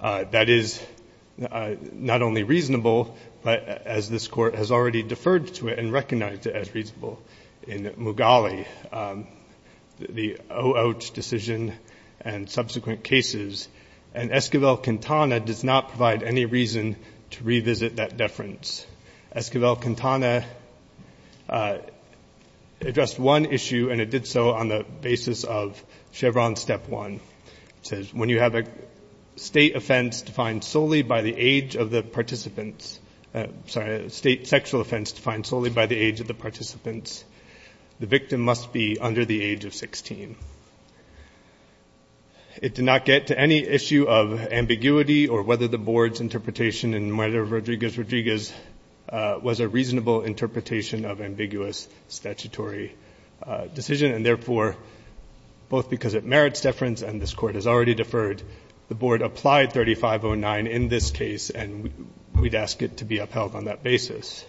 that is not only reasonable but as this court has already deferred to it and recognized it as reasonable in Mughali the Oh Ouch decision and subsequent cases and Esquivel-Quintana does not provide any reason to revisit that deference. Esquivel-Quintana addressed one issue and it did so on the basis of a state offense defined solely by the age of the participants, sorry, a state sexual offense defined solely by the age of the participants. The victim must be under the age of 16. It did not get to any issue of ambiguity or whether the board's interpretation in murder of Rodriguez-Rodriguez was a reasonable interpretation of ambiguous statutory decision and therefore both because it board applied 3509 in this case and we'd ask it to be upheld on that basis.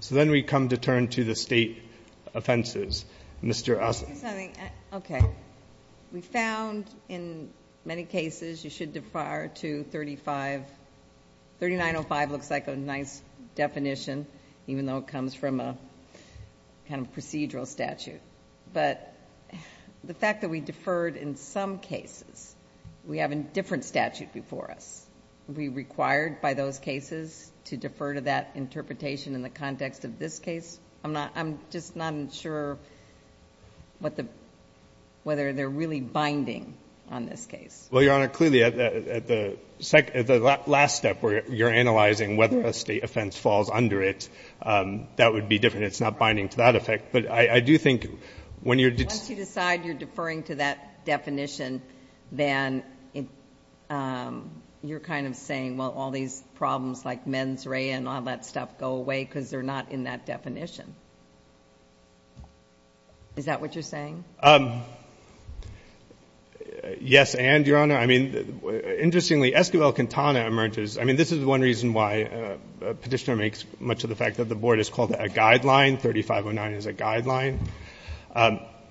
So then we come to turn to the state offenses. Mr. Osler. Okay. We found in many cases you should defer to 3905. 3905 looks like a nice definition even though it comes from a kind of procedural statute but the fact that we deferred in some cases, we have a different statute before us. Are we required by those cases to defer to that interpretation in the context of this case? I'm not, I'm just not sure what the, whether they're really binding on this case. Well, Your Honor, clearly at the last step where you're analyzing whether a state offense falls under it, that would be different. It's not binding to that effect but I do think when you're. Once you decide you're deferring to that definition, then you're kind of saying, well, all these problems like mens rea and all that stuff go away because they're not in that definition. Is that what you're saying? Yes, and Your Honor, I mean, interestingly, Esquivel-Quintana emerges, I mean, this is one reason why a petitioner makes much of the fact that the board has called it a guideline, 3509 is a guideline.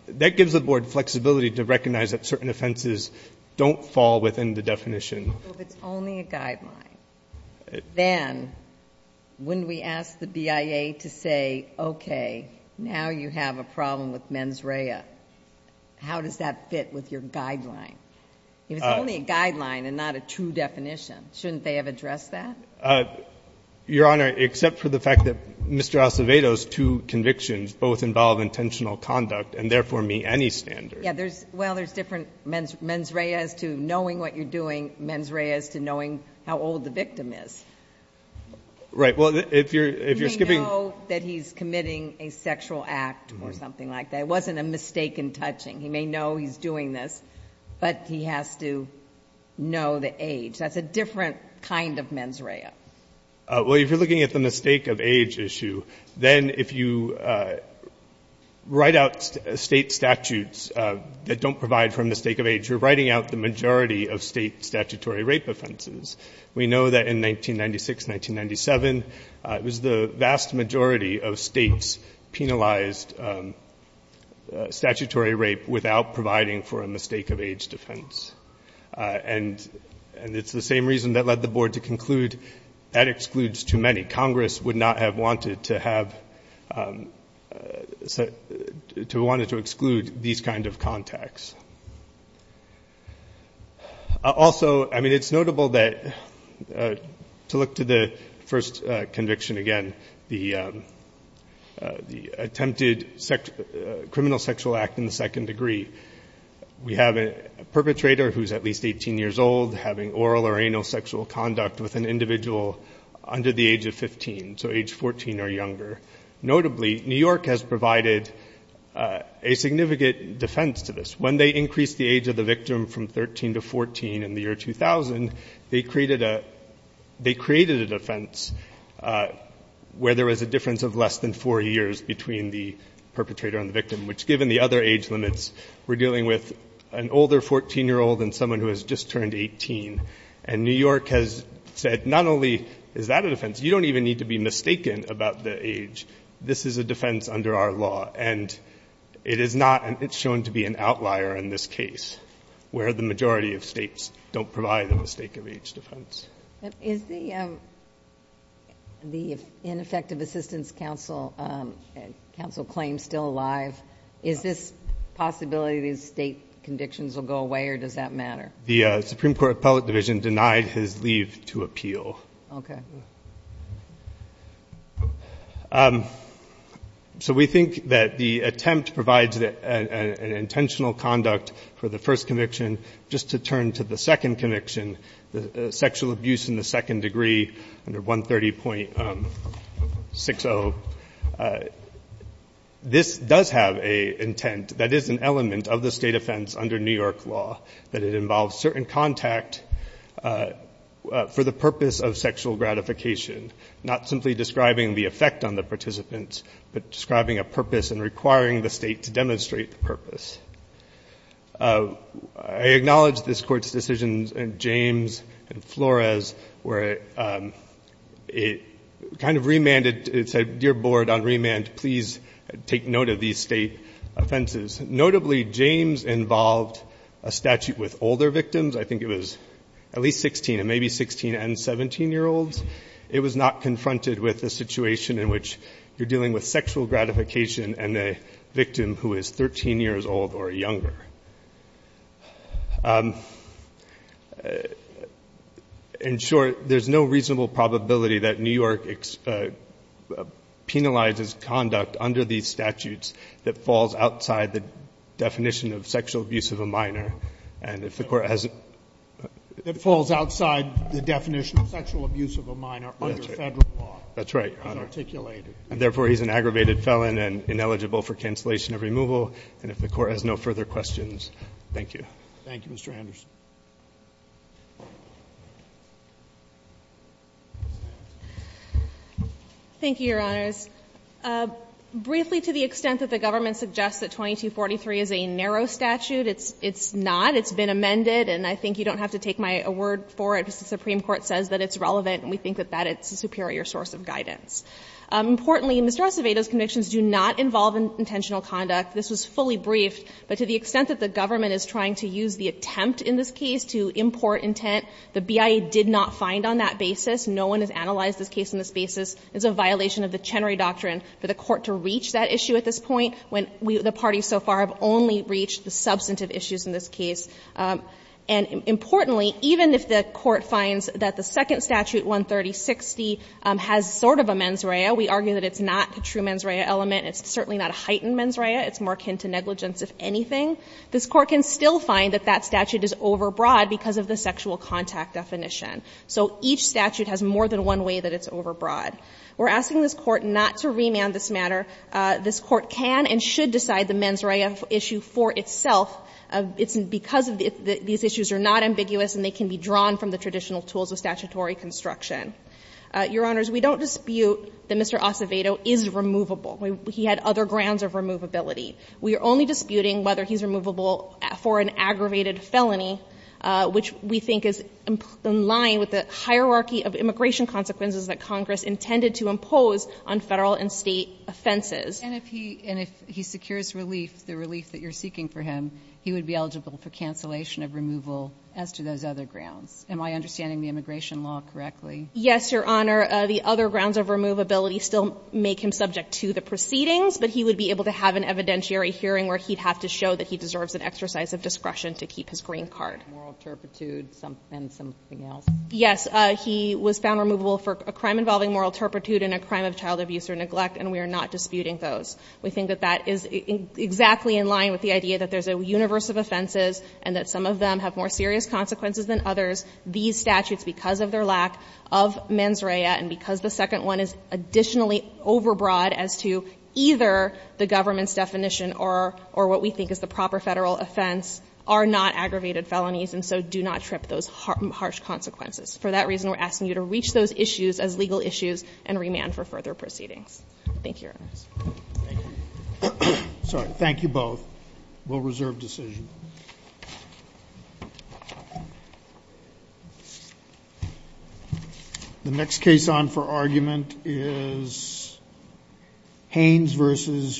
That gives the board flexibility to recognize that certain offenses don't fall within the definition. If it's only a guideline, then wouldn't we ask the BIA to say, okay, now you have a problem with mens rea. How does that fit with your guideline? If it's only a guideline and not a true definition, shouldn't they have addressed that? Your Honor, except for the fact that Mr. Acevedo's two convictions both involve intentional conduct and therefore meet any standard. Yeah, there's, well, there's different mens rea as to knowing what you're doing, mens rea as to knowing how old the victim is. Right, well, if you're skipping. He may know that he's committing a sexual act or something like that. It wasn't a mistake in touching. He may know he's doing this but he has to know the age. That's a different kind of mens rea. Well, if you're looking at the mistake of age issue, then if you write out state statutes that don't provide for a mistake of age, you're writing out the majority of state statutory rape offenses. We know that in 1996, 1997, it was the vast majority of states penalized statutory rape without providing for a mistake of age defense. And it's the same reason that led the board to conclude that excludes too many. Congress would not have wanted to have, to want to exclude these kind of contacts. Also, I mean, it's notable that to look to the first conviction again, the attempted criminal sexual act in the second degree. We have a perpetrator who's at least 18 years old having oral or anal sexual conduct with an individual under the age of 15, so age 14 or younger. Notably, New York has provided a significant defense to this. When they increased the age of the victim from 13 to 14 in the year 2000, they created a defense where there was a difference of less than four years between the perpetrator and the victim, which given the other age limits, we're dealing with an older 14-year-old and someone who has just turned 18. And New York has said, not only is that a defense, you don't even need to be mistaken about the age. This is a defense under our law. And it is not, it's shown to be an outlier in this case, where the majority of states don't provide a mistake of age defense. Is the ineffective assistance counsel claim still alive? Is this possibility that state convictions will go away, or does that matter? The Supreme Court Appellate Division denied his leave to appeal. Okay. So we think that the attempt provides an intentional conduct for the first conviction. Just to turn to the second conviction, the sexual abuse in the second degree under 130.60, this does have a intent that is an element of the state offense under New York law, that it involves certain contact for the purpose of sexual gratification, not simply describing the effect on the participants, but describing a purpose and requiring the state to demonstrate the purpose. I acknowledge this Court's decisions in James and Flores, where it kind of remanded, it said, Dear Board, on remand, please take note of these state offenses. Notably, James involved a statute with older victims. I think it was at least 16, and maybe 16 and 17-year-olds. It was not confronted with a situation in which you're dealing with sexual gratification and a victim who is 13 years old or younger. In short, there's no reasonable probability that New York penalizes conduct under these statutes that falls outside the definition of sexual abuse of a minor. And if the Court has a ---- That falls outside the definition of sexual abuse of a minor under Federal law. That's right, Your Honor. As articulated. And therefore, he's an aggravated felon and ineligible for cancellation of removal. And if the Court has no further questions, thank you. Thank you, Mr. Anderson. Thank you, Your Honors. Briefly, to the extent that the government suggests that 2243 is a narrow statute, it's not. It's been amended, and I think you don't have to take my word for it. The Supreme Court says that it's relevant, and we think that that is a superior source of guidance. Importantly, Mr. Acevedo's convictions do not involve intentional conduct. This was fully briefed, but to the extent that the government is trying to use the attempt in this case to import intent, the BIA did not find on that basis, no one has analyzed this case on this basis, it's a violation of the Chenery Doctrine for the Court to reach that issue at this point, when we, the parties so far, have only reached the substantive issues in this case. And importantly, even if the Court finds that the second statute, 13060, has sort of a mens rea, we argue that it's not a true mens rea element, it's certainly not a heightened mens rea, it's more akin to negligence, if anything, this Court can still find that that statute is overbroad because of the sexual contact definition. So each statute has more than one way that it's overbroad. We're asking this Court not to remand this matter. This Court can and should decide the mens rea issue for itself. It's because these issues are not ambiguous and they can be drawn from the traditional tools of statutory construction. Your Honors, we don't dispute that Mr. Acevedo is removable. He had other grounds of removability. We are only disputing whether he's removable for an aggravated felony, which we think is in line with the hierarchy of immigration consequences that Congress intended to impose on Federal and State offenses. And if he secures relief, the relief that you're seeking for him, he would be eligible for cancellation of removal as to those other grounds. Am I understanding the immigration law correctly? Yes, Your Honor. The other grounds of removability still make him subject to the proceedings, but he would be able to have an evidentiary hearing where he'd have to show that he deserves an exercise of discretion to keep his green card. Moral turpitude and something else. Yes. He was found removable for a crime involving moral turpitude and a crime of child abuse or neglect, and we are not disputing those. We think that that is exactly in line with the idea that there's a universe of offenses and that some of them have more serious consequences than others. These statutes, because of their lack of mens rea, and because the second one is additionally overbroad as to either the government's definition or what we think is the proper Federal offense, are not aggravated felonies, and so do not trip those harsh consequences. For that reason, we're asking you to reach those issues as legal issues and remand for further proceedings. Thank you, Your Honors. Thank you. Thank you both. We'll reserve decision. The next case on for argument is Haynes v.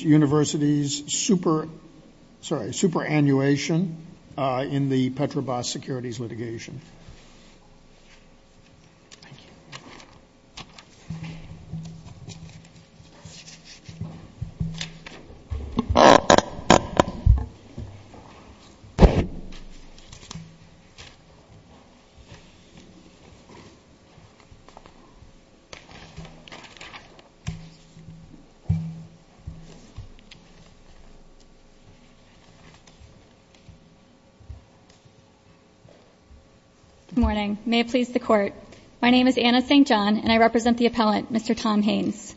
University's superannuation in the Petrobras securities litigation. Thank you. Good morning. May it please the Court. My name is Anna St. John, and I represent the appellant, Mr. Tom Haynes.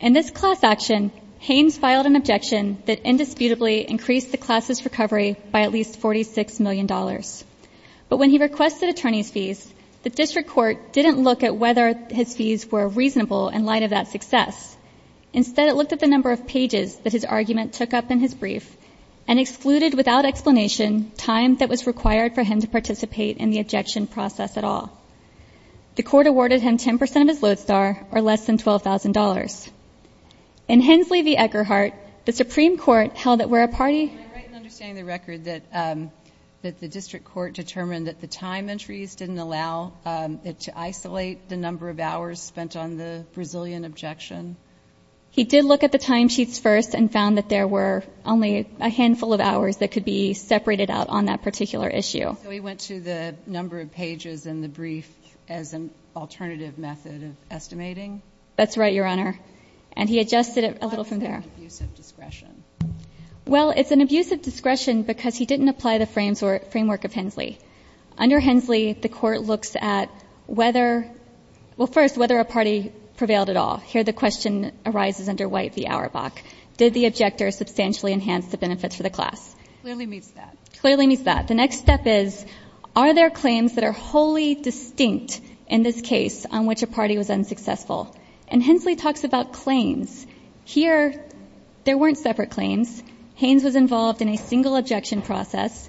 In this class action, Haynes filed an objection that indisputably increased the class's recovery by at least $46 million. But when he requested attorney's fees, the district court didn't look at whether his fees were reasonable in light of that success. Instead, it looked at the number of pages that his argument took up in his brief and excluded without explanation time that was required for him to participate in the objection process at all. The court awarded him 10% of his lodestar or less than $12,000. In Haynes v. Eckerhart, the Supreme Court held that where a party Am I right in understanding the record that the district court determined that the time entries didn't allow it to isolate the number of hours spent on the Brazilian objection? He did look at the time sheets first and found that there were only a handful of hours that could be separated out on that particular issue. So he went to the number of pages in the brief as an alternative method of estimating? That's right, Your Honor. And he adjusted it a little from there. Why was that an abusive discretion? Well, it's an abusive discretion because he didn't apply the framework of Hensley. Under Hensley, the court looks at whether — well, first, whether a party prevailed at all. Here the question arises under White v. Auerbach. Did the objector substantially enhance the benefits for the class? Clearly meets that. Clearly meets that. The next step is are there claims that are wholly distinct in this case on which a party was unsuccessful? And Hensley talks about claims. Here there weren't separate claims. Haynes was involved in a single objection process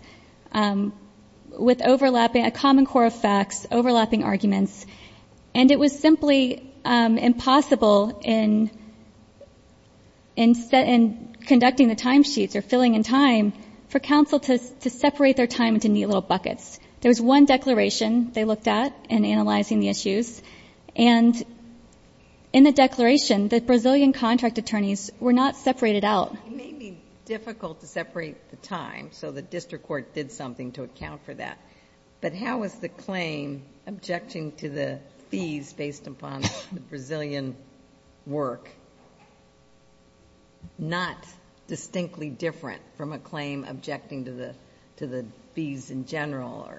with overlapping — a common core of facts, overlapping arguments. And it was simply impossible in conducting the time sheets or filling in time for counsel to separate their time into neat little buckets. There was one declaration they looked at in analyzing the issues, and in the declaration, the Brazilian contract attorneys were not separated out. It may be difficult to separate the time, so the district court did something to account for that. But how is the claim objecting to the fees based upon the Brazilian work not distinctly different from a claim objecting to the fees in general?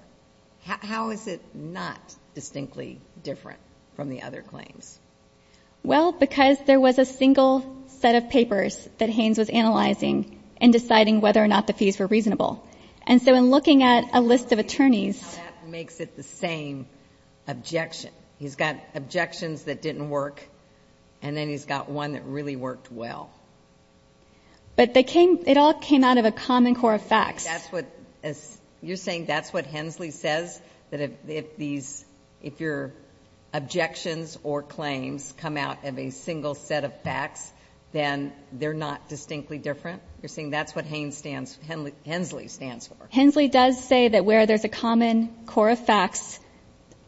How is it not distinctly different from the other claims? Well, because there was a single set of papers that Haynes was analyzing in deciding whether or not the fees were reasonable. And so in looking at a list of attorneys — That makes it the same objection. He's got objections that didn't work, and then he's got one that really worked well. But they came — it all came out of a common core of facts. That's what — you're saying that's what Hensley says? That if these — if your objections or claims come out of a single set of facts, then they're not distinctly different? You're saying that's what Haynes stands — Hensley stands for? Hensley does say that where there's a common core of facts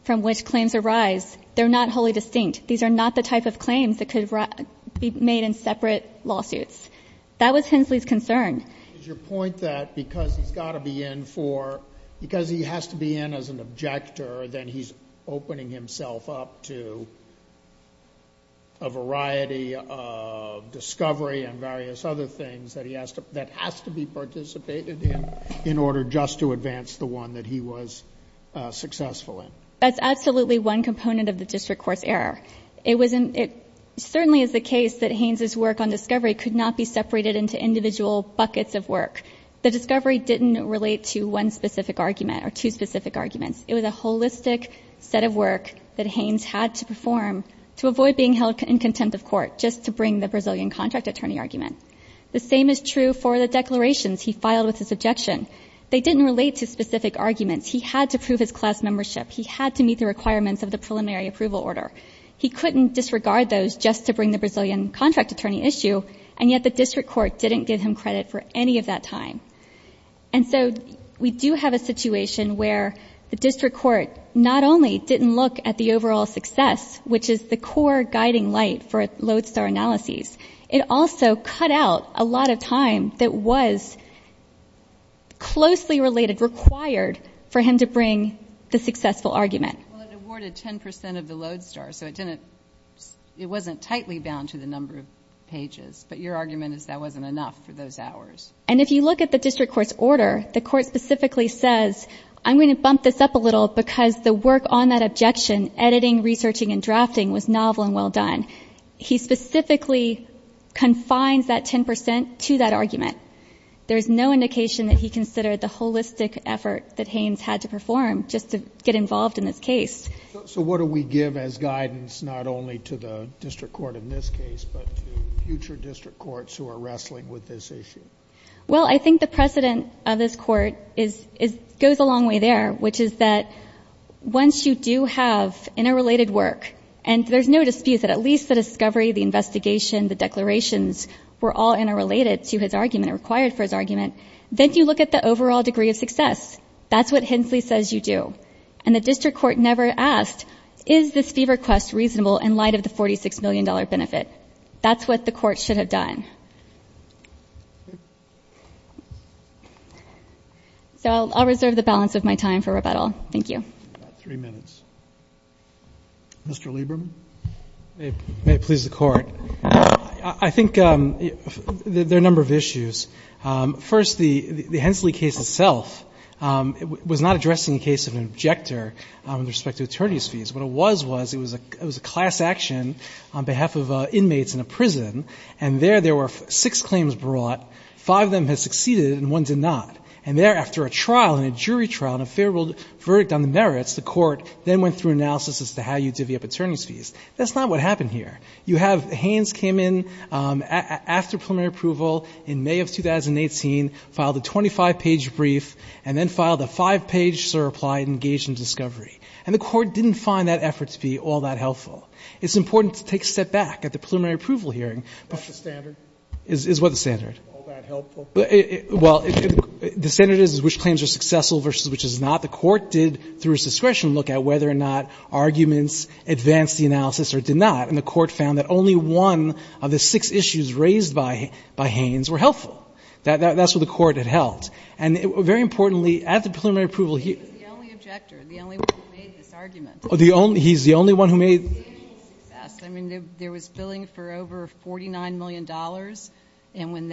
from which claims arise, they're not wholly distinct. These are not the type of claims that could be made in separate lawsuits. That was Hensley's concern. Is your point that because he's got to be in for — because he has to be in as an objector, then he's opening himself up to a variety of discovery and various other things that he has to — that has to be participated in in order just to advance the one that he was successful in? That's absolutely one component of the district court's error. It was — it certainly is the case that Haynes's work on discovery could not be separated into individual buckets of work. The discovery didn't relate to one specific argument or two specific arguments. It was a holistic set of work that Haynes had to perform to avoid being held in contempt of court just to bring the Brazilian contract attorney argument. The same is true for the declarations he filed with his objection. They didn't relate to specific arguments. He had to prove his class membership. He had to meet the requirements of the preliminary approval order. He couldn't disregard those just to bring the Brazilian contract attorney issue, and yet the district court didn't give him credit for any of that time. And so we do have a situation where the district court not only didn't look at the overall success, which is the core guiding light for lodestar analyses, it also cut out a lot of time that was closely related, required for him to bring the successful argument. Well, it awarded 10 percent of the lodestar, so it didn't — it wasn't tightly bound to the number of pages. But your argument is that wasn't enough for those hours. And if you look at the district court's order, the court specifically says, I'm going to bump this up a little because the work on that objection, editing, researching, and drafting, was novel and well done. He specifically confines that 10 percent to that argument. There's no indication that he considered the holistic effort that Haynes had to perform just to get involved in this case. So what do we give as guidance, not only to the district court in this case, but to future district courts who are wrestling with this issue? Well, I think the precedent of this Court is — goes a long way there, which is that once you do have interrelated work, and there's no dispute that at least the discovery, the investigation, the declarations were all interrelated to his argument or required for his argument, then you look at the overall degree of success. That's what Hensley says you do. And the district court never asked, is this fee request reasonable in light of the $46 million benefit? That's what the court should have done. So I'll reserve the balance of my time for rebuttal. Thank you. About three minutes. Mr. Lieberman? May it please the Court. I think there are a number of issues. First, the Hensley case itself was not addressing a case of an objector with respect to attorney's fees. What it was, was it was a class action on behalf of inmates in a prison. And there, there were six claims brought. Five of them had succeeded and one did not. That's not what happened here. You have Haines came in after preliminary approval in May of 2018, filed a 25-page brief, and then filed a five-page, sir, apply, engage in discovery. And the court didn't find that effort to be all that helpful. It's important to take a step back at the preliminary approval hearing. That's the standard? Is what the standard? All that helpful? Well, the standard is which claims are successful versus which is not. The court did, through its discretion, look at whether or not arguments advanced the analysis or did not. And the court found that only one of the six issues raised by, by Haines were helpful. That's what the court had held. And very importantly, at the preliminary approval hearing. He was the only objector, the only one who made this argument. The only, he's the only one who made. I mean, there was billing for over $49 million. And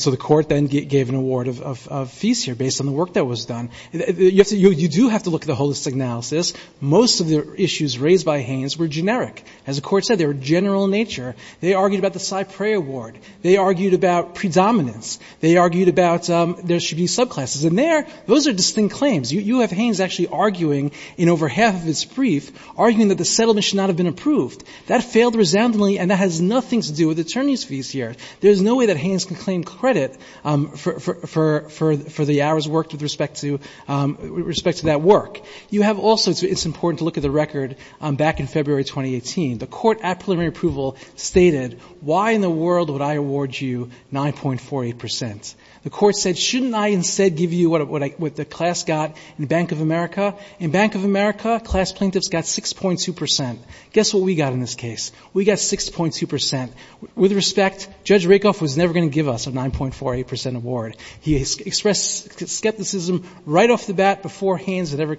so the court then gave an award of fees here based on the work that was done. You have to, you do have to look at the holistic analysis. Most of the issues raised by Haines were generic. As the court said, they were general in nature. They argued about the CyPray award. They argued about predominance. They argued about there should be subclasses. And there, those are distinct claims. You have Haines actually arguing in over half of his brief, arguing that the settlement should not have been approved. That failed resoundingly, and that has nothing to do with attorney's fees here. There's no way that Haines can claim credit for the hours worked with respect to that work. You have also, it's important to look at the record back in February 2018. The court at preliminary approval stated, why in the world would I award you 9.48 percent? The court said, shouldn't I instead give you what the class got in Bank of America? In Bank of America, class plaintiffs got 6.2 percent. Guess what we got in this case? We got 6.2 percent. With respect, Judge Rakoff was never going to give us a 9.48 percent award. He expressed skepticism right off the bat before Haines had ever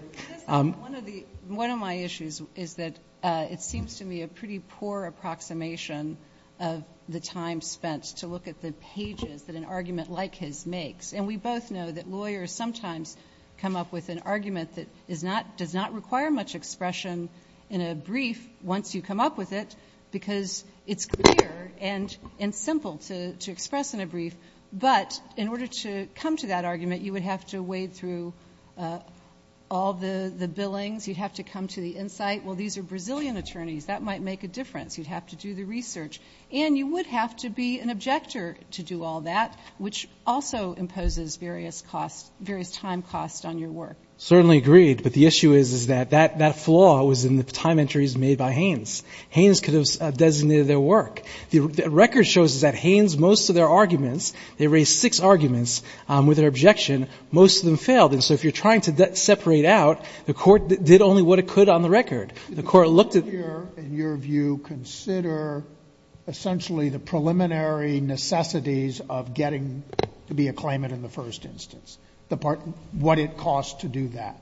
---- One of the, one of my issues is that it seems to me a pretty poor approximation of the time spent to look at the pages that an argument like his makes. And we both know that lawyers sometimes come up with an argument that is not, does not require much expression in a brief once you come up with it because it's clear and simple to express in a brief. But in order to come to that argument, you would have to wade through all the billings. You'd have to come to the insight, well, these are Brazilian attorneys. That might make a difference. You'd have to do the research. And you would have to be an objector to do all that, which also imposes various costs, various time costs on your work. Certainly agreed. But the issue is, is that that flaw was in the time entries made by Haines. Haines could have designated their work. The record shows us that Haines, most of their arguments, they raised six arguments with their objection. Most of them failed. And so if you're trying to separate out, the Court did only what it could on the record. The Court looked at ---- Sotomayor in your view consider essentially the preliminary necessities of getting to be a claimant in the first instance. What it costs to do that.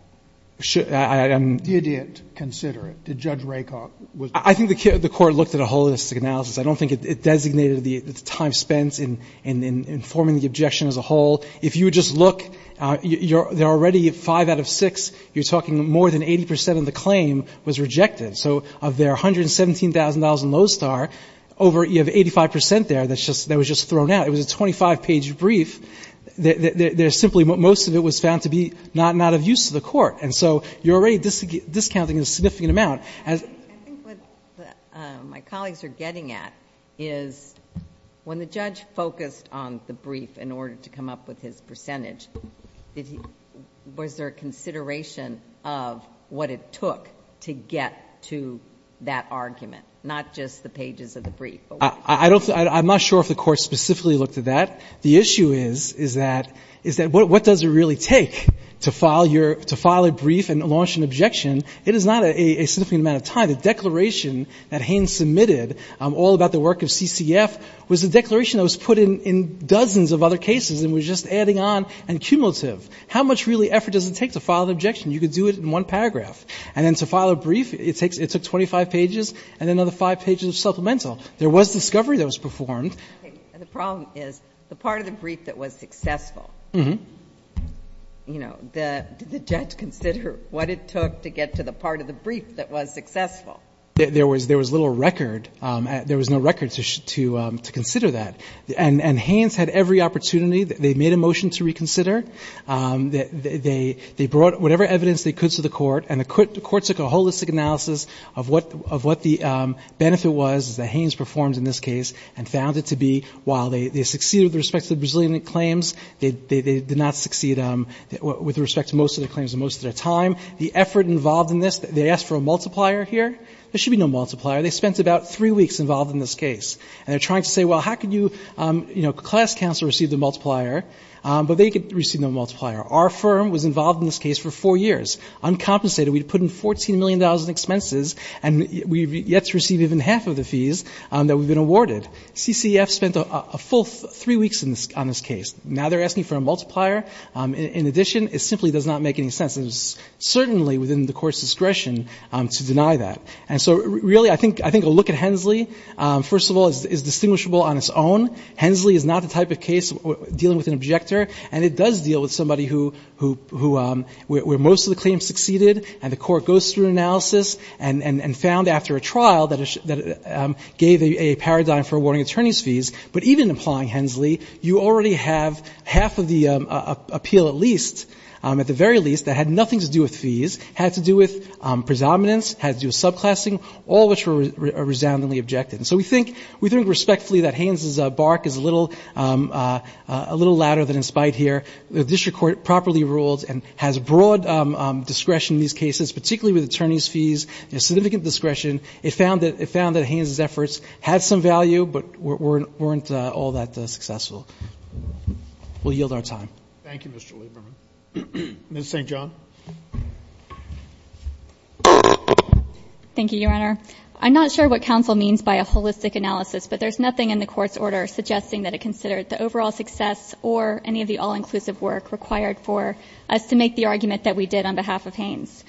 Did it consider it? Did Judge Rakoff? I think the Court looked at a holistic analysis. I don't think it designated the time spent in informing the objection as a whole. If you would just look, there are already five out of six, you're talking more than 80 percent of the claim was rejected. So of their $117,000 in Lowe's Star, over 85 percent there that was just thrown It was a 25-page brief. There's simply most of it was found to be not of use to the Court. And so you're already discounting a significant amount. I think what my colleagues are getting at is when the judge focused on the brief in order to come up with his percentage, was there a consideration of what it took to get to that argument, not just the pages of the brief? I'm not sure if the Court specifically looked at that. The issue is, is that, is that what does it really take to file your, to file a brief and launch an objection? It is not a significant amount of time. The declaration that Haines submitted all about the work of CCF was a declaration that was put in dozens of other cases and was just adding on and cumulative. How much really effort does it take to file an objection? You could do it in one paragraph. And then to file a brief, it takes, it took 25 pages and another five pages of supplemental. There was discovery that was performed. The problem is, the part of the brief that was successful, you know, did the judge consider what it took to get to the part of the brief that was successful? There was little record. There was no record to consider that. And Haines had every opportunity. They made a motion to reconsider. They brought whatever evidence they could to the Court. And the Court took a holistic analysis of what the benefit was that Haines performed in this case and found it to be, while they succeeded with respect to the Brazilian claims, they did not succeed with respect to most of the claims and most of their time. The effort involved in this, they asked for a multiplier here. There should be no multiplier. They spent about three weeks involved in this case. And they're trying to say, well, how could you, you know, class counsel receive the multiplier? But they received no multiplier. Our firm was involved in this case for four years, uncompensated. We had put in $14 million in expenses, and we've yet to receive even half of the fees that we've been awarded. CCEF spent a full three weeks on this case. Now they're asking for a multiplier. In addition, it simply does not make any sense. It is certainly within the Court's discretion to deny that. And so really I think a look at Hensley, first of all, is distinguishable on its own. Hensley is not the type of case dealing with an objector, and it does deal with somebody who where most of the claims succeeded, and the Court goes through analysis and found after a trial that it gave a paradigm for awarding attorney's fees. But even applying Hensley, you already have half of the appeal at least, at the very least, that had nothing to do with fees, had to do with predominance, had to do with subclassing, all which were resoundingly objected. And so we think respectfully that Haines' bark is a little louder than in spite here. The district court properly ruled and has broad discretion in these cases, particularly with attorney's fees and significant discretion. It found that Haines' efforts had some value but weren't all that successful. We'll yield our time. Thank you, Mr. Lieberman. Ms. St. John. Thank you, Your Honor. I'm not sure what counsel means by a holistic analysis, but there's nothing in the Court's order suggesting that it considered the overall success or any of the all-inclusive work required for us to make the argument that we did on behalf of Haines.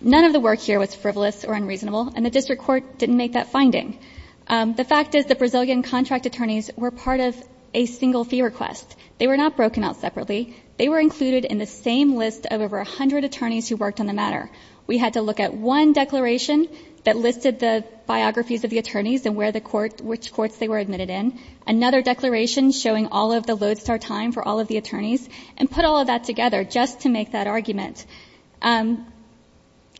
None of the work here was frivolous or unreasonable, and the district court didn't make that finding. The fact is the Brazilian contract attorneys were part of a single fee request. They were not broken out separately. They were included in the same list of over 100 attorneys who worked on the matter. We had to look at one declaration that listed the biographies of the attorneys and which courts they were admitted in, another declaration showing all of the lodestar time for all of the attorneys, and put all of that together just to make that argument.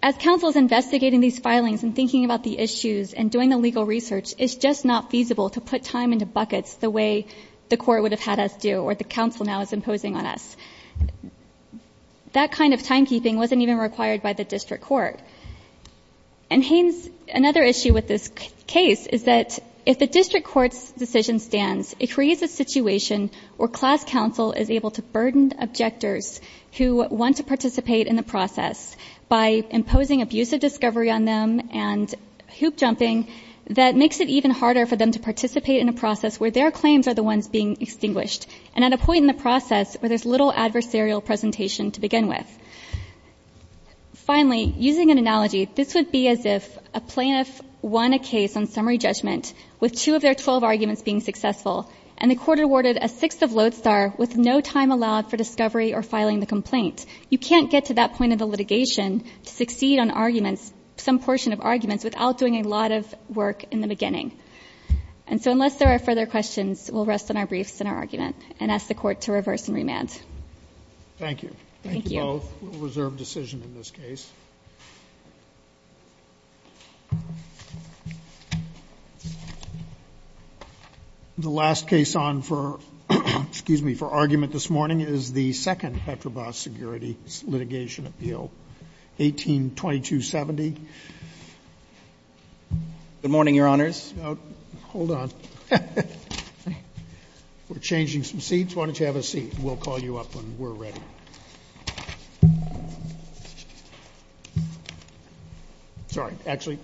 As counsel is investigating these filings and thinking about the issues and doing the legal research, it's just not feasible to put time into buckets the way the court would have had us do or the counsel now is imposing on us. That kind of timekeeping wasn't even required by the district court. And Haines, another issue with this case is that if the district court's decision stands, it creates a situation where class counsel is able to burden objectors who want to participate in the process by imposing abusive discovery on them and hoop-jumping that makes it even harder for them to participate in a process where their claims are the ones being extinguished. And at a point in the process where there's little adversarial presentation to begin with. Finally, using an analogy, this would be as if a plaintiff won a case on summary judgment with two of their 12 arguments being successful, and the court awarded a sixth of lodestar with no time allowed for discovery or filing the complaint. You can't get to that point of the litigation to succeed on arguments, some portion of arguments, without doing a lot of work in the beginning. And so unless there are further questions, we'll rest on our briefs and our argument and ask the court to reverse and remand. Thank you. Thank you. Thank you both. We'll reserve decision in this case. The last case on for, excuse me, for argument this morning is the second Petrobras security litigation appeal, 18-2270. Good morning, Your Honors. Hold on. We're changing some seats. Why don't you have a seat? We'll call you up when we're ready. Sorry. Actually,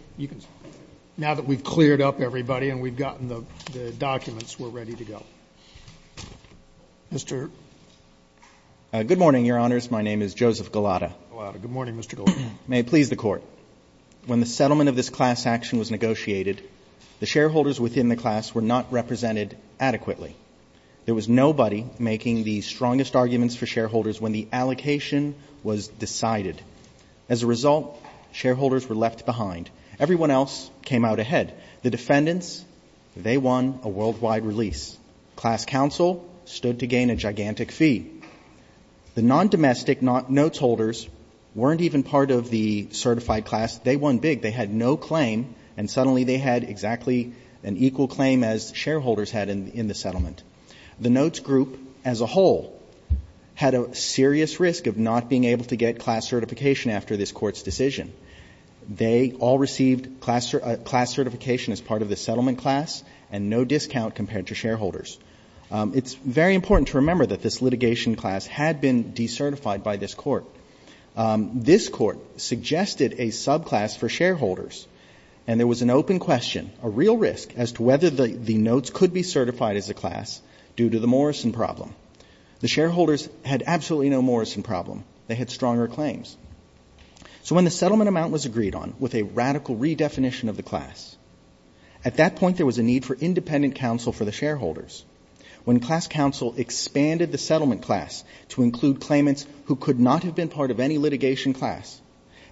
now that we've cleared up everybody and we've gotten the documents, we're ready to go. Mr. Good morning, Your Honors. My name is Joseph Gulotta. Good morning, Mr. Gulotta. May it please the Court. When the settlement of this class action was negotiated, the shareholders within the class were not represented adequately. There was nobody making the strongest arguments for shareholders when the allocation was decided. As a result, shareholders were left behind. Everyone else came out ahead. The defendants, they won a worldwide release. Class counsel stood to gain a gigantic fee. The non-domestic notes holders weren't even part of the certified class. They won big. They had no claim. And suddenly they had exactly an equal claim as shareholders had in the settlement. The notes group as a whole had a serious risk of not being able to get class certification after this Court's decision. They all received class certification as part of the settlement class and no discount compared to shareholders. It's very important to remember that this litigation class had been decertified by this Court. This Court suggested a subclass for shareholders, and there was an open question, a real risk, as to whether the notes could be certified as a class due to the Morrison problem. The shareholders had absolutely no Morrison problem. They had stronger claims. So when the settlement amount was agreed on with a radical redefinition of the class, at that point there was a need for independent counsel for the shareholders. When class counsel expanded the settlement class to include claimants who could not have been part of any litigation class,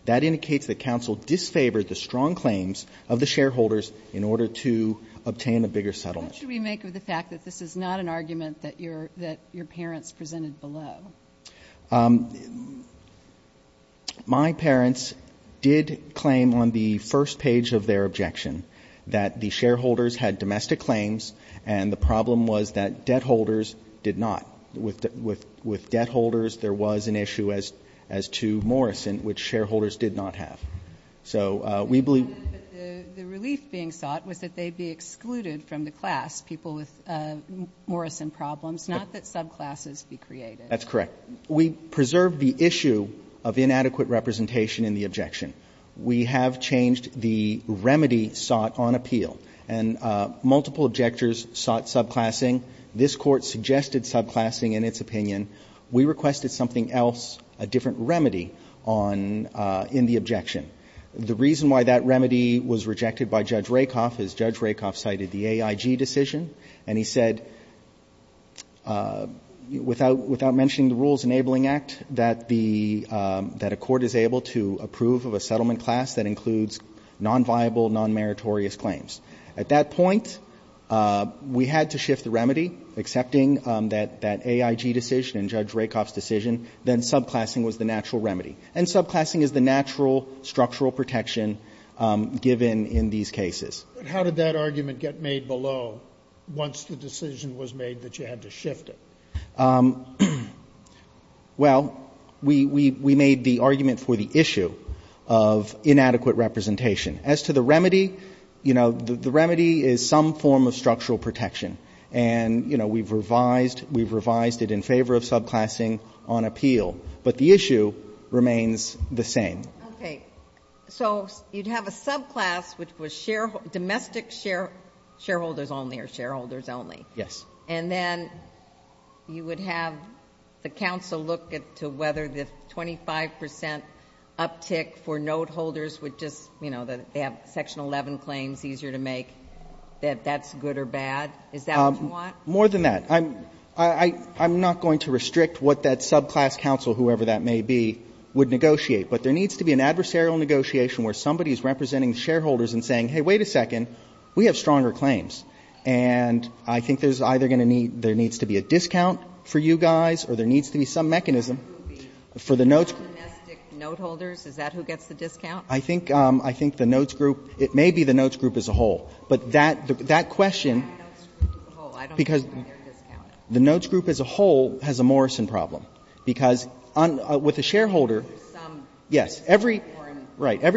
that indicates that counsel disfavored the strong claims of the shareholders in order to obtain a bigger settlement. What should we make of the fact that this is not an argument that your parents presented below? My parents did claim on the first page of their objection that the shareholders had domestic claims, and the problem was that debt holders did not. With debt holders, there was an issue as to Morrison, which shareholders did not have. So we believe the relief being sought was that they be excluded from the class, people with Morrison problems, not that subclasses be created. That's correct. We preserved the issue of inadequate representation in the objection. We have changed the remedy sought on appeal. Multiple objectors sought subclassing. This Court suggested subclassing in its opinion. We requested something else, a different remedy in the objection. The reason why that remedy was rejected by Judge Rakoff is Judge Rakoff cited the AIG decision, and he said, without mentioning the Rules Enabling Act, that a court is able to approve of a settlement class that includes nonviable, nonmeritorious claims. At that point, we had to shift the remedy, accepting that AIG decision and Judge Rakoff's decision, then subclassing was the natural remedy. And subclassing is the natural structural protection given in these cases. But how did that argument get made below once the decision was made that you had to shift it? Well, we made the argument for the issue of inadequate representation. As to the remedy, you know, the remedy is some form of structural protection. And, you know, we've revised it in favor of subclassing on appeal. But the issue remains the same. Okay. So you'd have a subclass which was domestic shareholders only or shareholders only. Yes. And then you would have the counsel look to whether the 25 percent uptick for subclasses, you know, that they have Section 11 claims easier to make, that that's good or bad. Is that what you want? More than that. I'm not going to restrict what that subclass counsel, whoever that may be, would negotiate. But there needs to be an adversarial negotiation where somebody is representing the shareholders and saying, hey, wait a second, we have stronger claims. And I think there's either going to need to be a discount for you guys or there needs to be some mechanism for the notes. The domestic note holders, is that who gets the discount? I think the notes group, it may be the notes group as a whole. But that question, because the notes group as a whole has a Morrison problem. Because with a shareholder, yes, every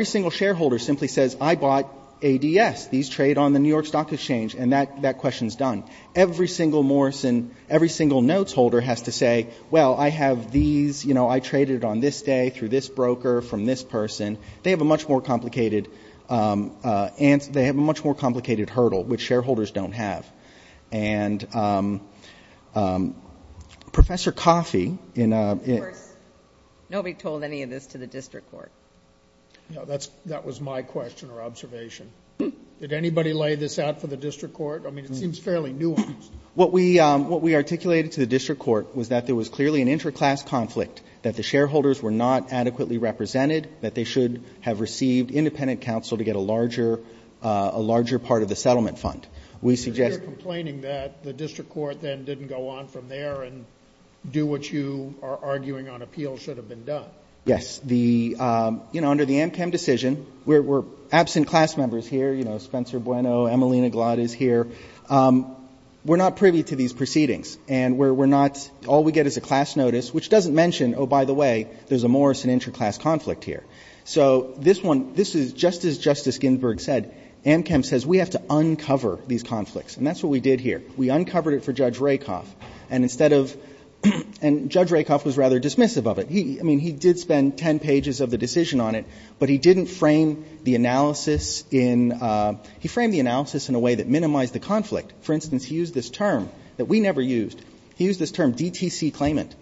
single shareholder simply says, I bought ADS. These trade on the New York Stock Exchange. And that question is done. Every single Morrison, every single notes holder has to say, well, I have these, you know, I traded on this day through this broker, from this person. They have a much more complicated answer. They have a much more complicated hurdle, which shareholders don't have. And Professor Coffey. Nobody told any of this to the district court. That was my question or observation. Did anybody lay this out for the district court? I mean, it seems fairly nuanced. What we articulated to the district court was that there was clearly an interclass conflict, that the shareholders were not adequately represented, that they should have received independent counsel to get a larger, a larger part of the settlement fund. We suggest. You're complaining that the district court then didn't go on from there and do what you are arguing on appeal should have been done. Yes. The, you know, under the Amchem decision, we're absent class members here. You know, Spencer Bueno, Emelina Glaude is here. We're not privy to these proceedings. And we're not, all we get is a class notice, which doesn't mention, oh, by the way, there's a Morrison interclass conflict here. So this one, this is just as Justice Ginsburg said. Amchem says we have to uncover these conflicts. And that's what we did here. We uncovered it for Judge Rakoff. And instead of, and Judge Rakoff was rather dismissive of it. He, I mean, he did spend ten pages of the decision on it, but he didn't frame the analysis in, he framed the analysis in a way that minimized the conflict. For instance, he used this term that we never used. He used this term DTC claimant.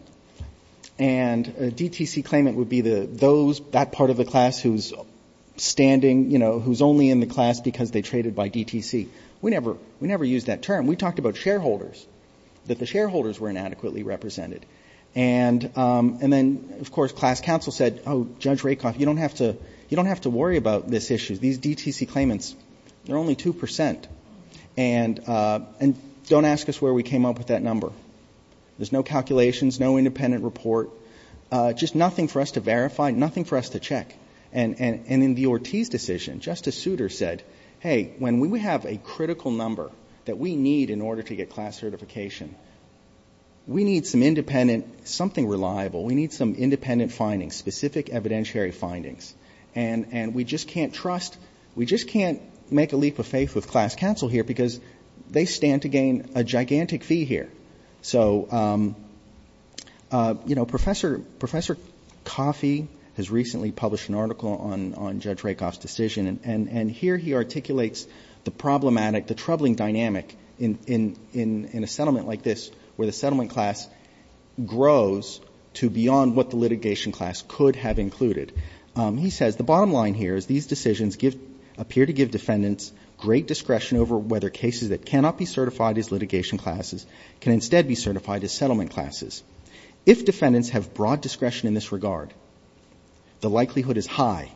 And a DTC claimant would be the, those, that part of the class who's standing, you know, who's only in the class because they traded by DTC. We never, we never used that term. We talked about shareholders, that the shareholders were inadequately represented. And then, of course, class counsel said, oh, Judge Rakoff, you don't have to, you don't have to worry about this issue. These DTC claimants, they're only 2 percent. And don't ask us where we came up with that number. There's no calculations, no independent report, just nothing for us to verify, nothing for us to check. And in the Ortiz decision, Justice Souter said, hey, when we have a critical number that we need in order to get class certification, we need some independent, something reliable. We need some independent findings, specific evidentiary findings. And we just can't trust, we just can't make a leap of faith with class counsel here because they stand to gain a gigantic fee here. So, you know, Professor Coffey has recently published an article on Judge Rakoff's decision, and here he articulates the problematic, the troubling dynamic in a settlement like this where the settlement class grows to beyond what the litigation class could have included. He says, the bottom line here is these decisions appear to give defendants great discretion over whether cases that cannot be certified as litigation classes can instead be certified as settlement classes. If defendants have broad discretion in this regard, the likelihood is high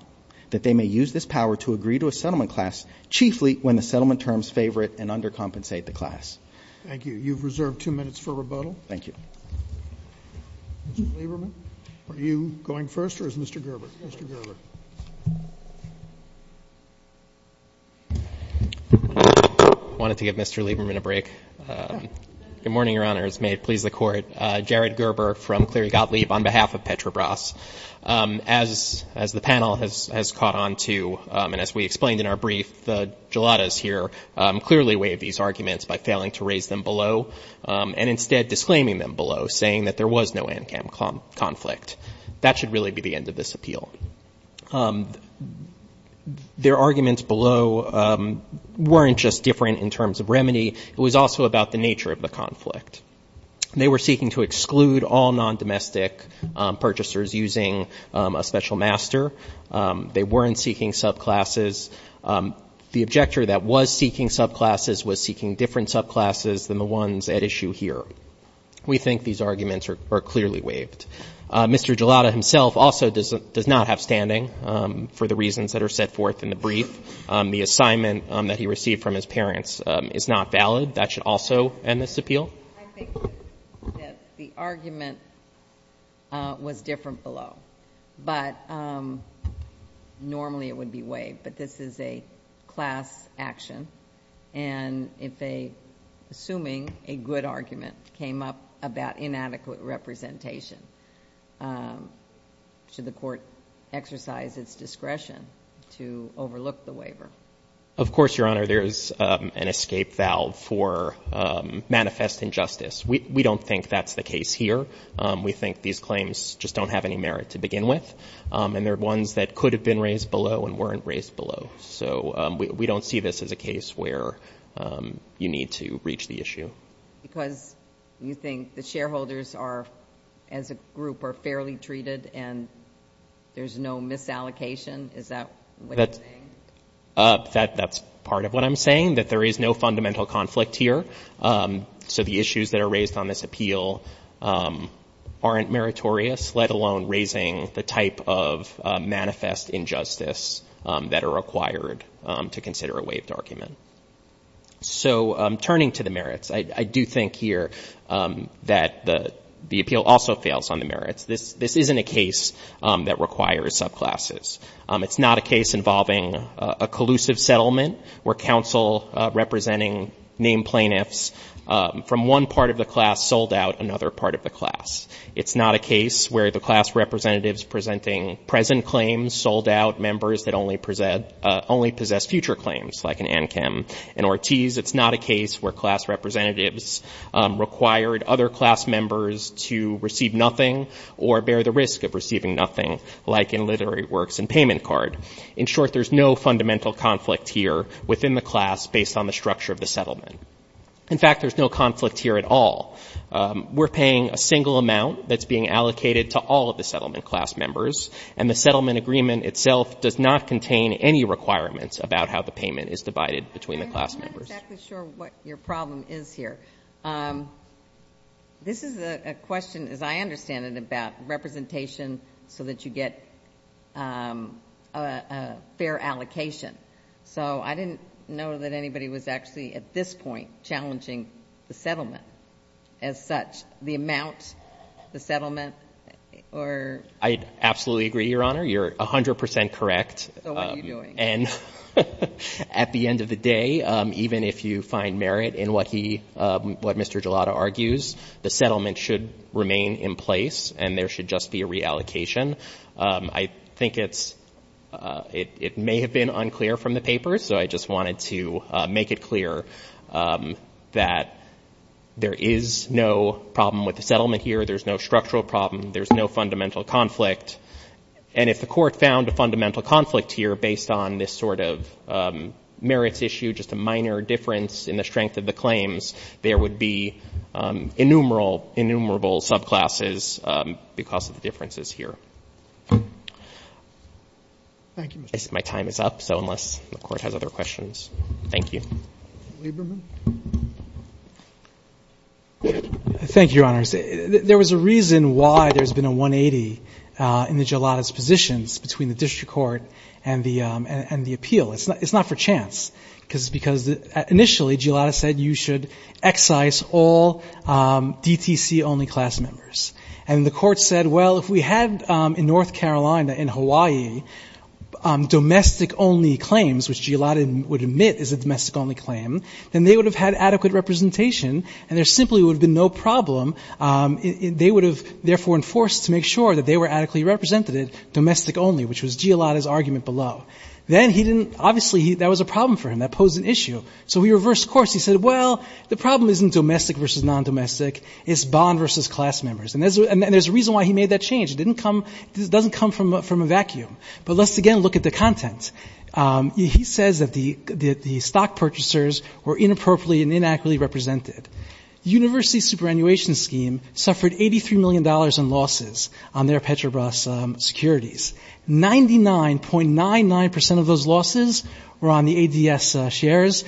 that they may use this power to agree to a settlement class chiefly when the settlement terms favor it and undercompensate the class. Thank you. You've reserved two minutes for rebuttal. Thank you. Mr. Lieberman, are you going first or is Mr. Gerber? Mr. Gerber. I wanted to give Mr. Lieberman a break. Good morning, Your Honors. May it please the Court. Jared Gerber from Cleary Gottlieb on behalf of Petrobras. As the panel has caught on to, and as we explained in our brief, the geladas here clearly waive these arguments by failing to raise them below and instead disclaiming them below, saying that there was no ANCAM conflict. That should really be the end of this appeal. Their arguments below weren't just different in terms of remedy. It was also about the nature of the conflict. They were seeking to exclude all non-domestic purchasers using a special master. They weren't seeking subclasses. The objector that was seeking subclasses was seeking different subclasses than the ones at issue here. We think these arguments are clearly waived. Mr. Gelada himself also does not have standing for the reasons that are set forth in the brief. The assignment that he received from his parents is not valid. That should also end this appeal. I think that the argument was different below. But normally it would be waived. But this is a class action. And if assuming a good argument came up about inadequate representation, should the court exercise its discretion to overlook the waiver? Of course, Your Honor. There is an escape valve for manifest injustice. We don't think that's the case here. We think these claims just don't have any merit to begin with. And they're ones that could have been raised below and weren't raised below. So we don't see this as a case where you need to reach the issue. Because you think the shareholders as a group are fairly treated and there's no misallocation? Is that what you're saying? That's part of what I'm saying, that there is no fundamental conflict here. So the issues that are raised on this appeal aren't meritorious, let alone raising the type of manifest injustice that are required to consider a waived argument. So turning to the merits, I do think here that the appeal also fails on the merits. This isn't a case that requires subclasses. It's not a case involving a collusive settlement where counsel representing named plaintiffs from one part of the class sold out another part of the class. It's not a case where the class representatives presenting present claims sold out members that only possess future claims, like in Ankem and Ortiz. It's not a case where class representatives required other class members to receive nothing or bear the risk of receiving nothing, like in literary works and payment card. In short, there's no fundamental conflict here within the class based on the structure of the settlement. In fact, there's no conflict here at all. We're paying a single amount that's being allocated to all of the settlement class members, and the settlement agreement itself does not contain any requirements about how the payment is divided between the class members. I'm not exactly sure what your problem is here. This is a question, as I understand it, about representation so that you get a fair allocation. So I didn't know that anybody was actually at this point challenging the settlement as such, the amount, the settlement, or ---- I absolutely agree, Your Honor. You're 100 percent correct. So what are you doing? And at the end of the day, even if you find merit in what he, what Mr. Gelada argues, the settlement should remain in place and there should just be a reallocation. I think it's, it may have been unclear from the papers, so I just wanted to make it clear that there is no problem with the settlement here. There's no structural problem. There's no fundamental conflict. And if the court found a fundamental conflict here based on this sort of merits issue, just a minor difference in the strength of the claims, there would be innumerable, innumerable subclasses because of the differences here. My time is up, so unless the Court has other questions. Thank you. Roberts. Thank you, Your Honors. There was a reason why there's been a 180 in the Gelada's positions between the district court and the appeal. It's not for chance because initially Gelada said you should excise all DTC-only class members. And the court said, well, if we had in North Carolina, in Hawaii, domestic-only claims, which Gelada would admit is a domestic-only claim, then they would have had adequate representation and there simply would have been no problem. They would have therefore been forced to make sure that they were adequately represented, domestic-only, which was Gelada's argument below. Then he didn't – obviously that was a problem for him. That posed an issue. So he reversed course. He said, well, the problem isn't domestic versus non-domestic. It's bond versus class members. And there's a reason why he made that change. It didn't come – it doesn't come from a vacuum. But let's again look at the content. He says that the stock purchasers were inappropriately and inaccurately represented. The university superannuation scheme suffered $83 million in losses on their Petrobras securities. 99.99% of those losses were on the ADS shares.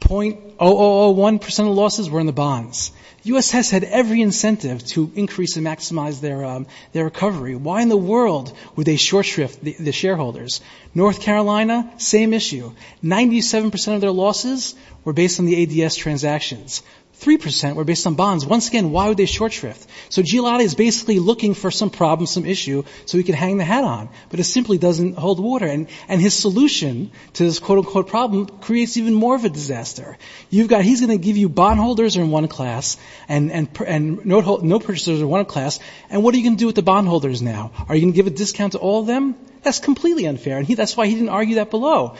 0.0001% of the losses were in the bonds. USS had every incentive to increase and maximize their recovery. Why in the world would they short shrift the shareholders? North Carolina, same issue. 97% of their losses were based on the ADS transactions. 3% were based on bonds. Once again, why would they short shrift? So Gialotti is basically looking for some problem, some issue, so he can hang the hat on. But it simply doesn't hold water. And his solution to this quote-unquote problem creates even more of a disaster. You've got – he's going to give you bondholders in one class and note purchasers in one class. And what are you going to do with the bondholders now? Are you going to give a discount to all of them? That's completely unfair. And that's why he didn't argue that below.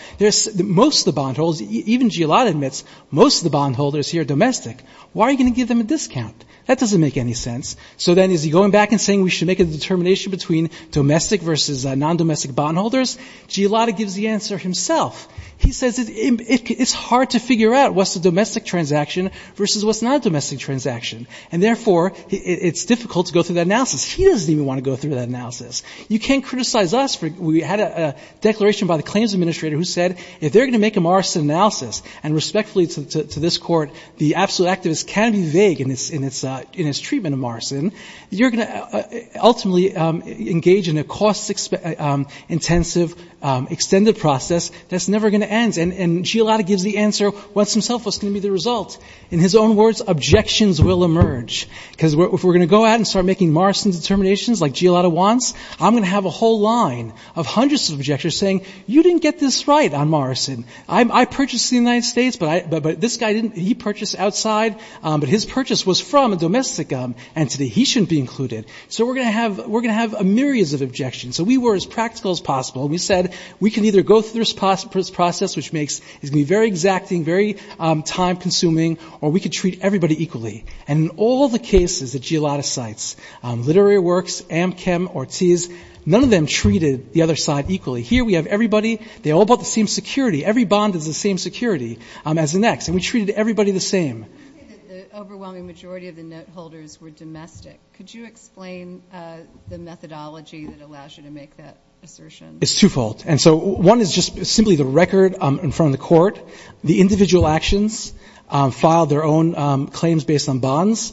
Most of the bondholders – even Gialotti admits most of the bondholders here are domestic. Why are you going to give them a discount? That doesn't make any sense. So then is he going back and saying we should make a determination between domestic versus non-domestic bondholders? Gialotti gives the answer himself. He says it's hard to figure out what's a domestic transaction versus what's not a domestic transaction. And, therefore, it's difficult to go through that analysis. He doesn't even want to go through that analysis. You can't criticize us. We had a declaration by the claims administrator who said if they're going to make a Morrison analysis, and respectfully to this Court, the absolute activist can be vague in his treatment of Morrison, you're going to ultimately engage in a cost-intensive extended process that's never going to end. And Gialotti gives the answer once himself. What's going to be the result? In his own words, objections will emerge. Because if we're going to go out and start making Morrison determinations like Gialotti wants, I'm going to have a whole line of hundreds of objectors saying you didn't get this right on Morrison. I purchased in the United States, but this guy didn't. He purchased outside. But his purchase was from a domestic entity. He shouldn't be included. So we're going to have a myriads of objections. So we were as practical as possible. We said we can either go through this process, which is going to be very exacting, very time-consuming, or we can treat everybody equally. And in all the cases that Gialotti cites, Literary Works, Amchem, Ortiz, none of them treated the other side equally. Here we have everybody. They all bought the same security. Every bond is the same security as the next. And we treated everybody the same. You say that the overwhelming majority of the note holders were domestic. Could you explain the methodology that allows you to make that assertion? It's twofold. And so one is just simply the record in front of the court. The individual actions filed their own claims based on bonds.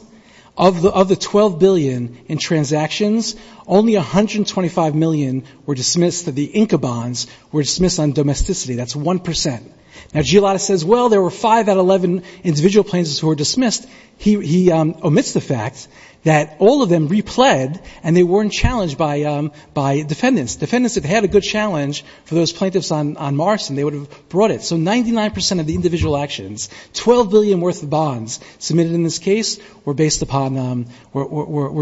Of the $12 billion in transactions, only $125 million were dismissed. The Inca bonds were dismissed on domesticity. That's 1%. Now, Gialotti says, well, there were five out of 11 individual plaintiffs who were dismissed. He omits the fact that all of them repled, and they weren't challenged by defendants. Defendants, if they had a good challenge for those plaintiffs on Marston, they would have brought it. So 99% of the individual actions, $12 billion worth of bonds submitted in this case were based upon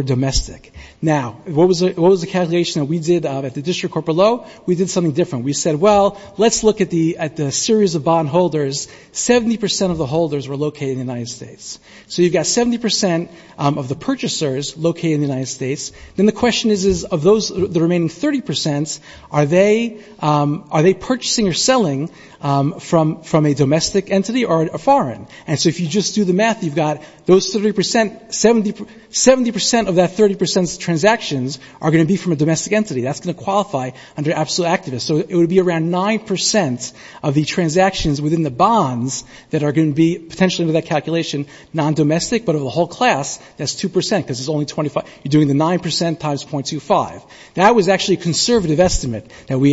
domestic. Now, what was the calculation that we did at the District Corporate Law? We did something different. We said, well, let's look at the series of bond holders. 70% of the holders were located in the United States. So you've got 70% of the purchasers located in the United States. Then the question is, is of those, the remaining 30%, are they purchasing or selling from a domestic entity or a foreign? And so if you just do the math, you've got those 30% 70% of that 30% transactions are going to be from a domestic entity. That's going to qualify under absolute activists. So it would be around 9% of the transactions within the bonds that are going to be potentially under that calculation non-domestic, but of the whole class, that's 2% because it's only 25. You're doing the 9% times .25. That was actually a conservative estimate that we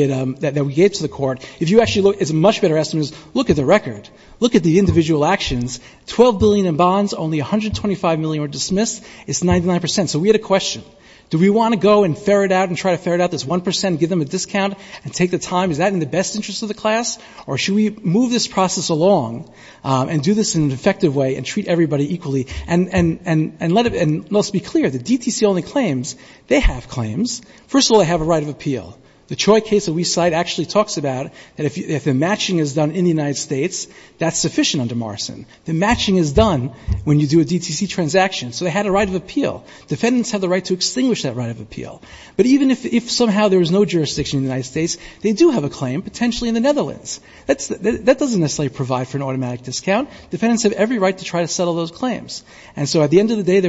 gave to the court. If you actually look, it's a much better estimate. Look at the record. Look at the individual actions. $12 billion in bonds, only $125 million were dismissed. It's 99%. So we had a question. Do we want to go and ferret out and try to ferret out this 1% and give them a discount and take the time? Is that in the best interest of the class? Or should we move this process along and do this in an effective way and treat everybody equally? And let's be clear, the DTC only claims. They have claims. First of all, they have a right of appeal. The Choi case that we cite actually talks about that if the matching is done in the United States, that's sufficient under Morrison. The matching is done when you do a DTC transaction. So they had a right of appeal. Defendants have the right to extinguish that right of appeal. But even if somehow there was no jurisdiction in the United States, they do have a claim, potentially in the Netherlands. That doesn't necessarily provide for an automatic discount. Defendants have every right to try to settle those claims. And so at the end of the day,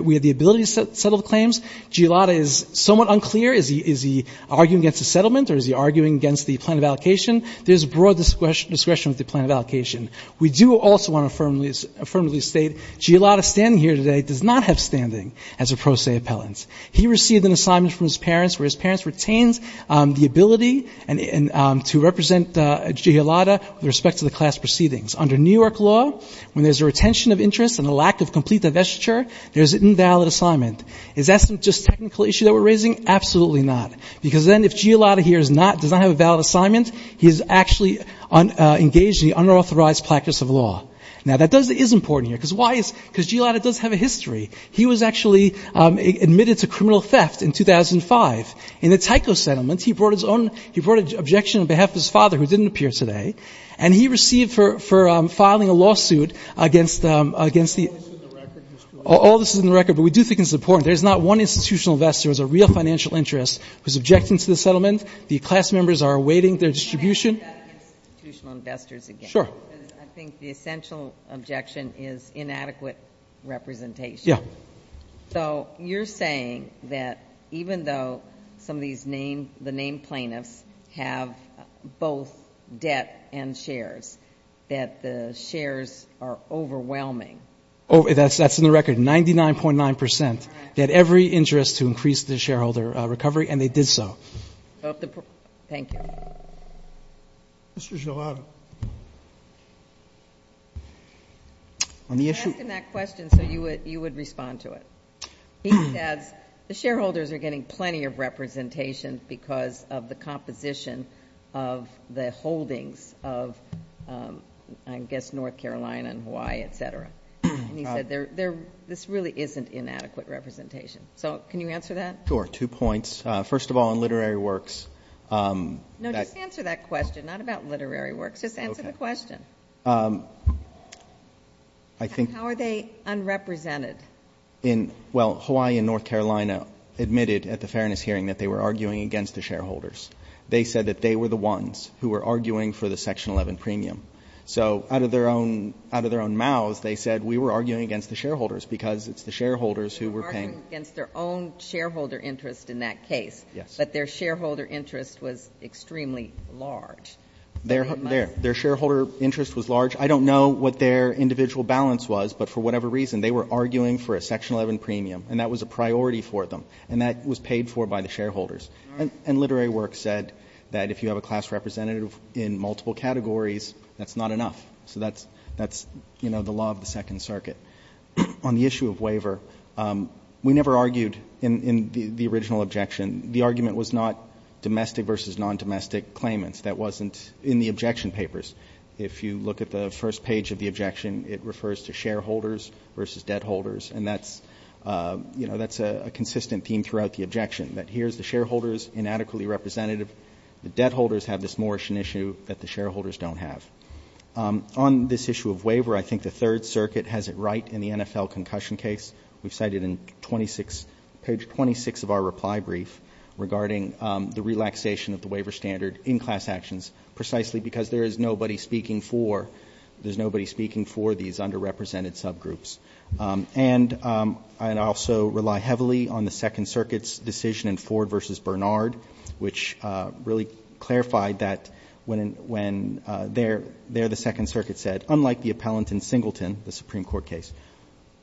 we had the ability to settle the claims. Giulotta is somewhat unclear. Is he arguing against the settlement or is he arguing against the plan of allocation? There's broad discretion with the plan of allocation. We do also want to firmly state Giulotta standing here today does not have standing as a pro se appellant. He received an assignment from his parents where his parents retained the ability to represent Giulotta with respect to the class proceedings. Under New York law, when there's a retention of interest and a lack of complete divestiture, there's an invalid assignment. Is that just a technical issue that we're raising? Absolutely not. Because then if Giulotta here does not have a valid assignment, he is actually engaged in the unauthorized practice of law. Now, that is important here. Because why? Because Giulotta does have a history. He was actually admitted to criminal theft in 2005. In the Tyco settlement, he brought his own — he brought an objection on behalf of his father, who didn't appear today. And he received for filing a lawsuit against the — All this is in the record. All this is in the record. But we do think it's important. There's not one institutional investor who has a real financial interest who is objecting to the settlement. The class members are awaiting their distribution. Can I ask about institutional investors again? Sure. I think the essential objection is inadequate representation. Yeah. So you're saying that even though some of these — the named plaintiffs have both debt and shares, that the shares are overwhelming? That's in the record, 99.9 percent. They had every interest to increase the shareholder recovery, and they did so. Thank you. Mr. Giulotta. I'm asking that question so you would respond to it. He says the shareholders are getting plenty of representation because of the composition of the holdings of, I guess, North Carolina and Hawaii, et cetera. And he said this really isn't inadequate representation. So can you answer that? Sure. Two points. First of all, in literary works — No, just answer that question, not about literary works. Just answer the question. How are they unrepresented? Well, Hawaii and North Carolina admitted at the fairness hearing that they were arguing against the shareholders. They said that they were the ones who were arguing for the Section 11 premium. So out of their own mouths, they said we were arguing against the shareholders because it's the shareholders who were paying — Yes. But their shareholder interest was extremely large. Their shareholder interest was large. I don't know what their individual balance was, but for whatever reason, they were arguing for a Section 11 premium, and that was a priority for them. And that was paid for by the shareholders. And literary works said that if you have a class representative in multiple categories, that's not enough. So that's, you know, the law of the Second Circuit. On the issue of waiver, we never argued in the original objection. The argument was not domestic versus non-domestic claimants. That wasn't in the objection papers. If you look at the first page of the objection, it refers to shareholders versus debt holders. And that's, you know, that's a consistent theme throughout the objection, that here's the shareholders inadequately representative. The debt holders have this Moorishan issue that the shareholders don't have. On this issue of waiver, I think the Third Circuit has it right in the NFL concussion case. We've cited in 26 — page 26 of our reply brief regarding the relaxation of the waiver standard in class actions, precisely because there is nobody speaking for — there's nobody speaking for these underrepresented subgroups. And I also rely heavily on the Second Circuit's decision in Ford v. Bernard, which really clarified that when there the Second Circuit said, unlike the appellant in Singleton, the Supreme Court case,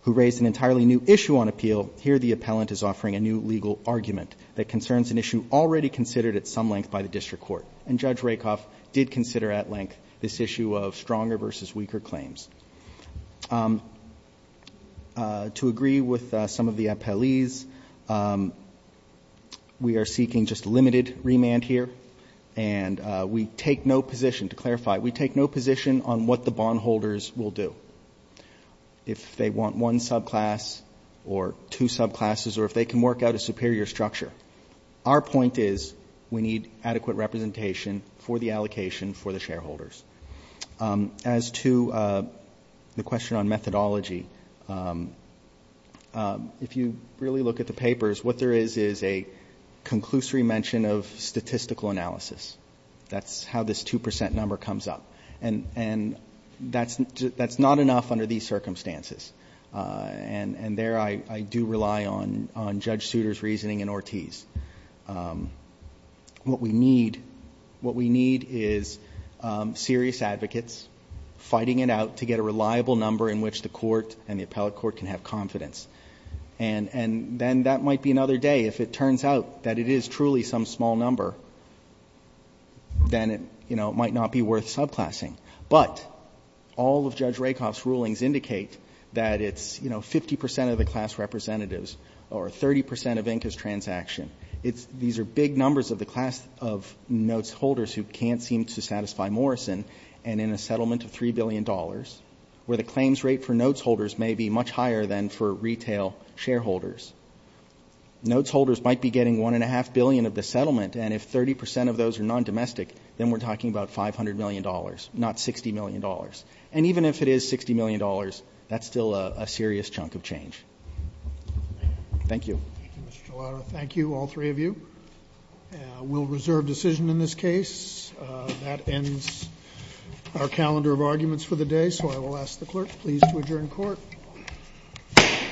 who raised an entirely new issue on appeal, here the appellant is offering a new legal argument that concerns an issue already considered at some length by the district court. And Judge Rakoff did consider at length this issue of stronger versus weaker claims. To agree with some of the appellees, we are seeking just limited remand here. And we take no position — to clarify, we take no position on what the bondholders will do, if they want one subclass or two subclasses or if they can work out a superior structure. Our point is we need adequate representation for the allocation for the shareholders. As to the question on methodology, if you really look at the papers, what there is is a conclusory mention of statistical analysis. That's how this 2 percent number comes up. And that's not enough under these circumstances. And there I do rely on Judge Souter's reasoning and Ortiz. What we need is serious advocates fighting it out to get a reliable number in which the court and the appellate court can have confidence. And then that might be another day, if it turns out that it is truly some small number, then it might not be worth subclassing. But all of Judge Rakoff's rulings indicate that it's 50 percent of the class representatives or 30 percent of Inka's transaction. These are big numbers of the class of notes holders who can't seem to satisfy Morrison, and in a settlement of $3 billion, where the claims rate for notes holders may be much higher than for retail shareholders. Notes holders might be getting $1.5 billion of the settlement, and if 30 percent of those are non-domestic, then we're talking about $500 million, not $60 million. And even if it is $60 million, that's still a serious chunk of change. Thank you. Thank you, Mr. Gelato. Thank you, all three of you. We'll reserve decision in this case. That ends our calendar of arguments for the day, so I will ask the clerk please to adjourn court. Court is adjourned. Thank you.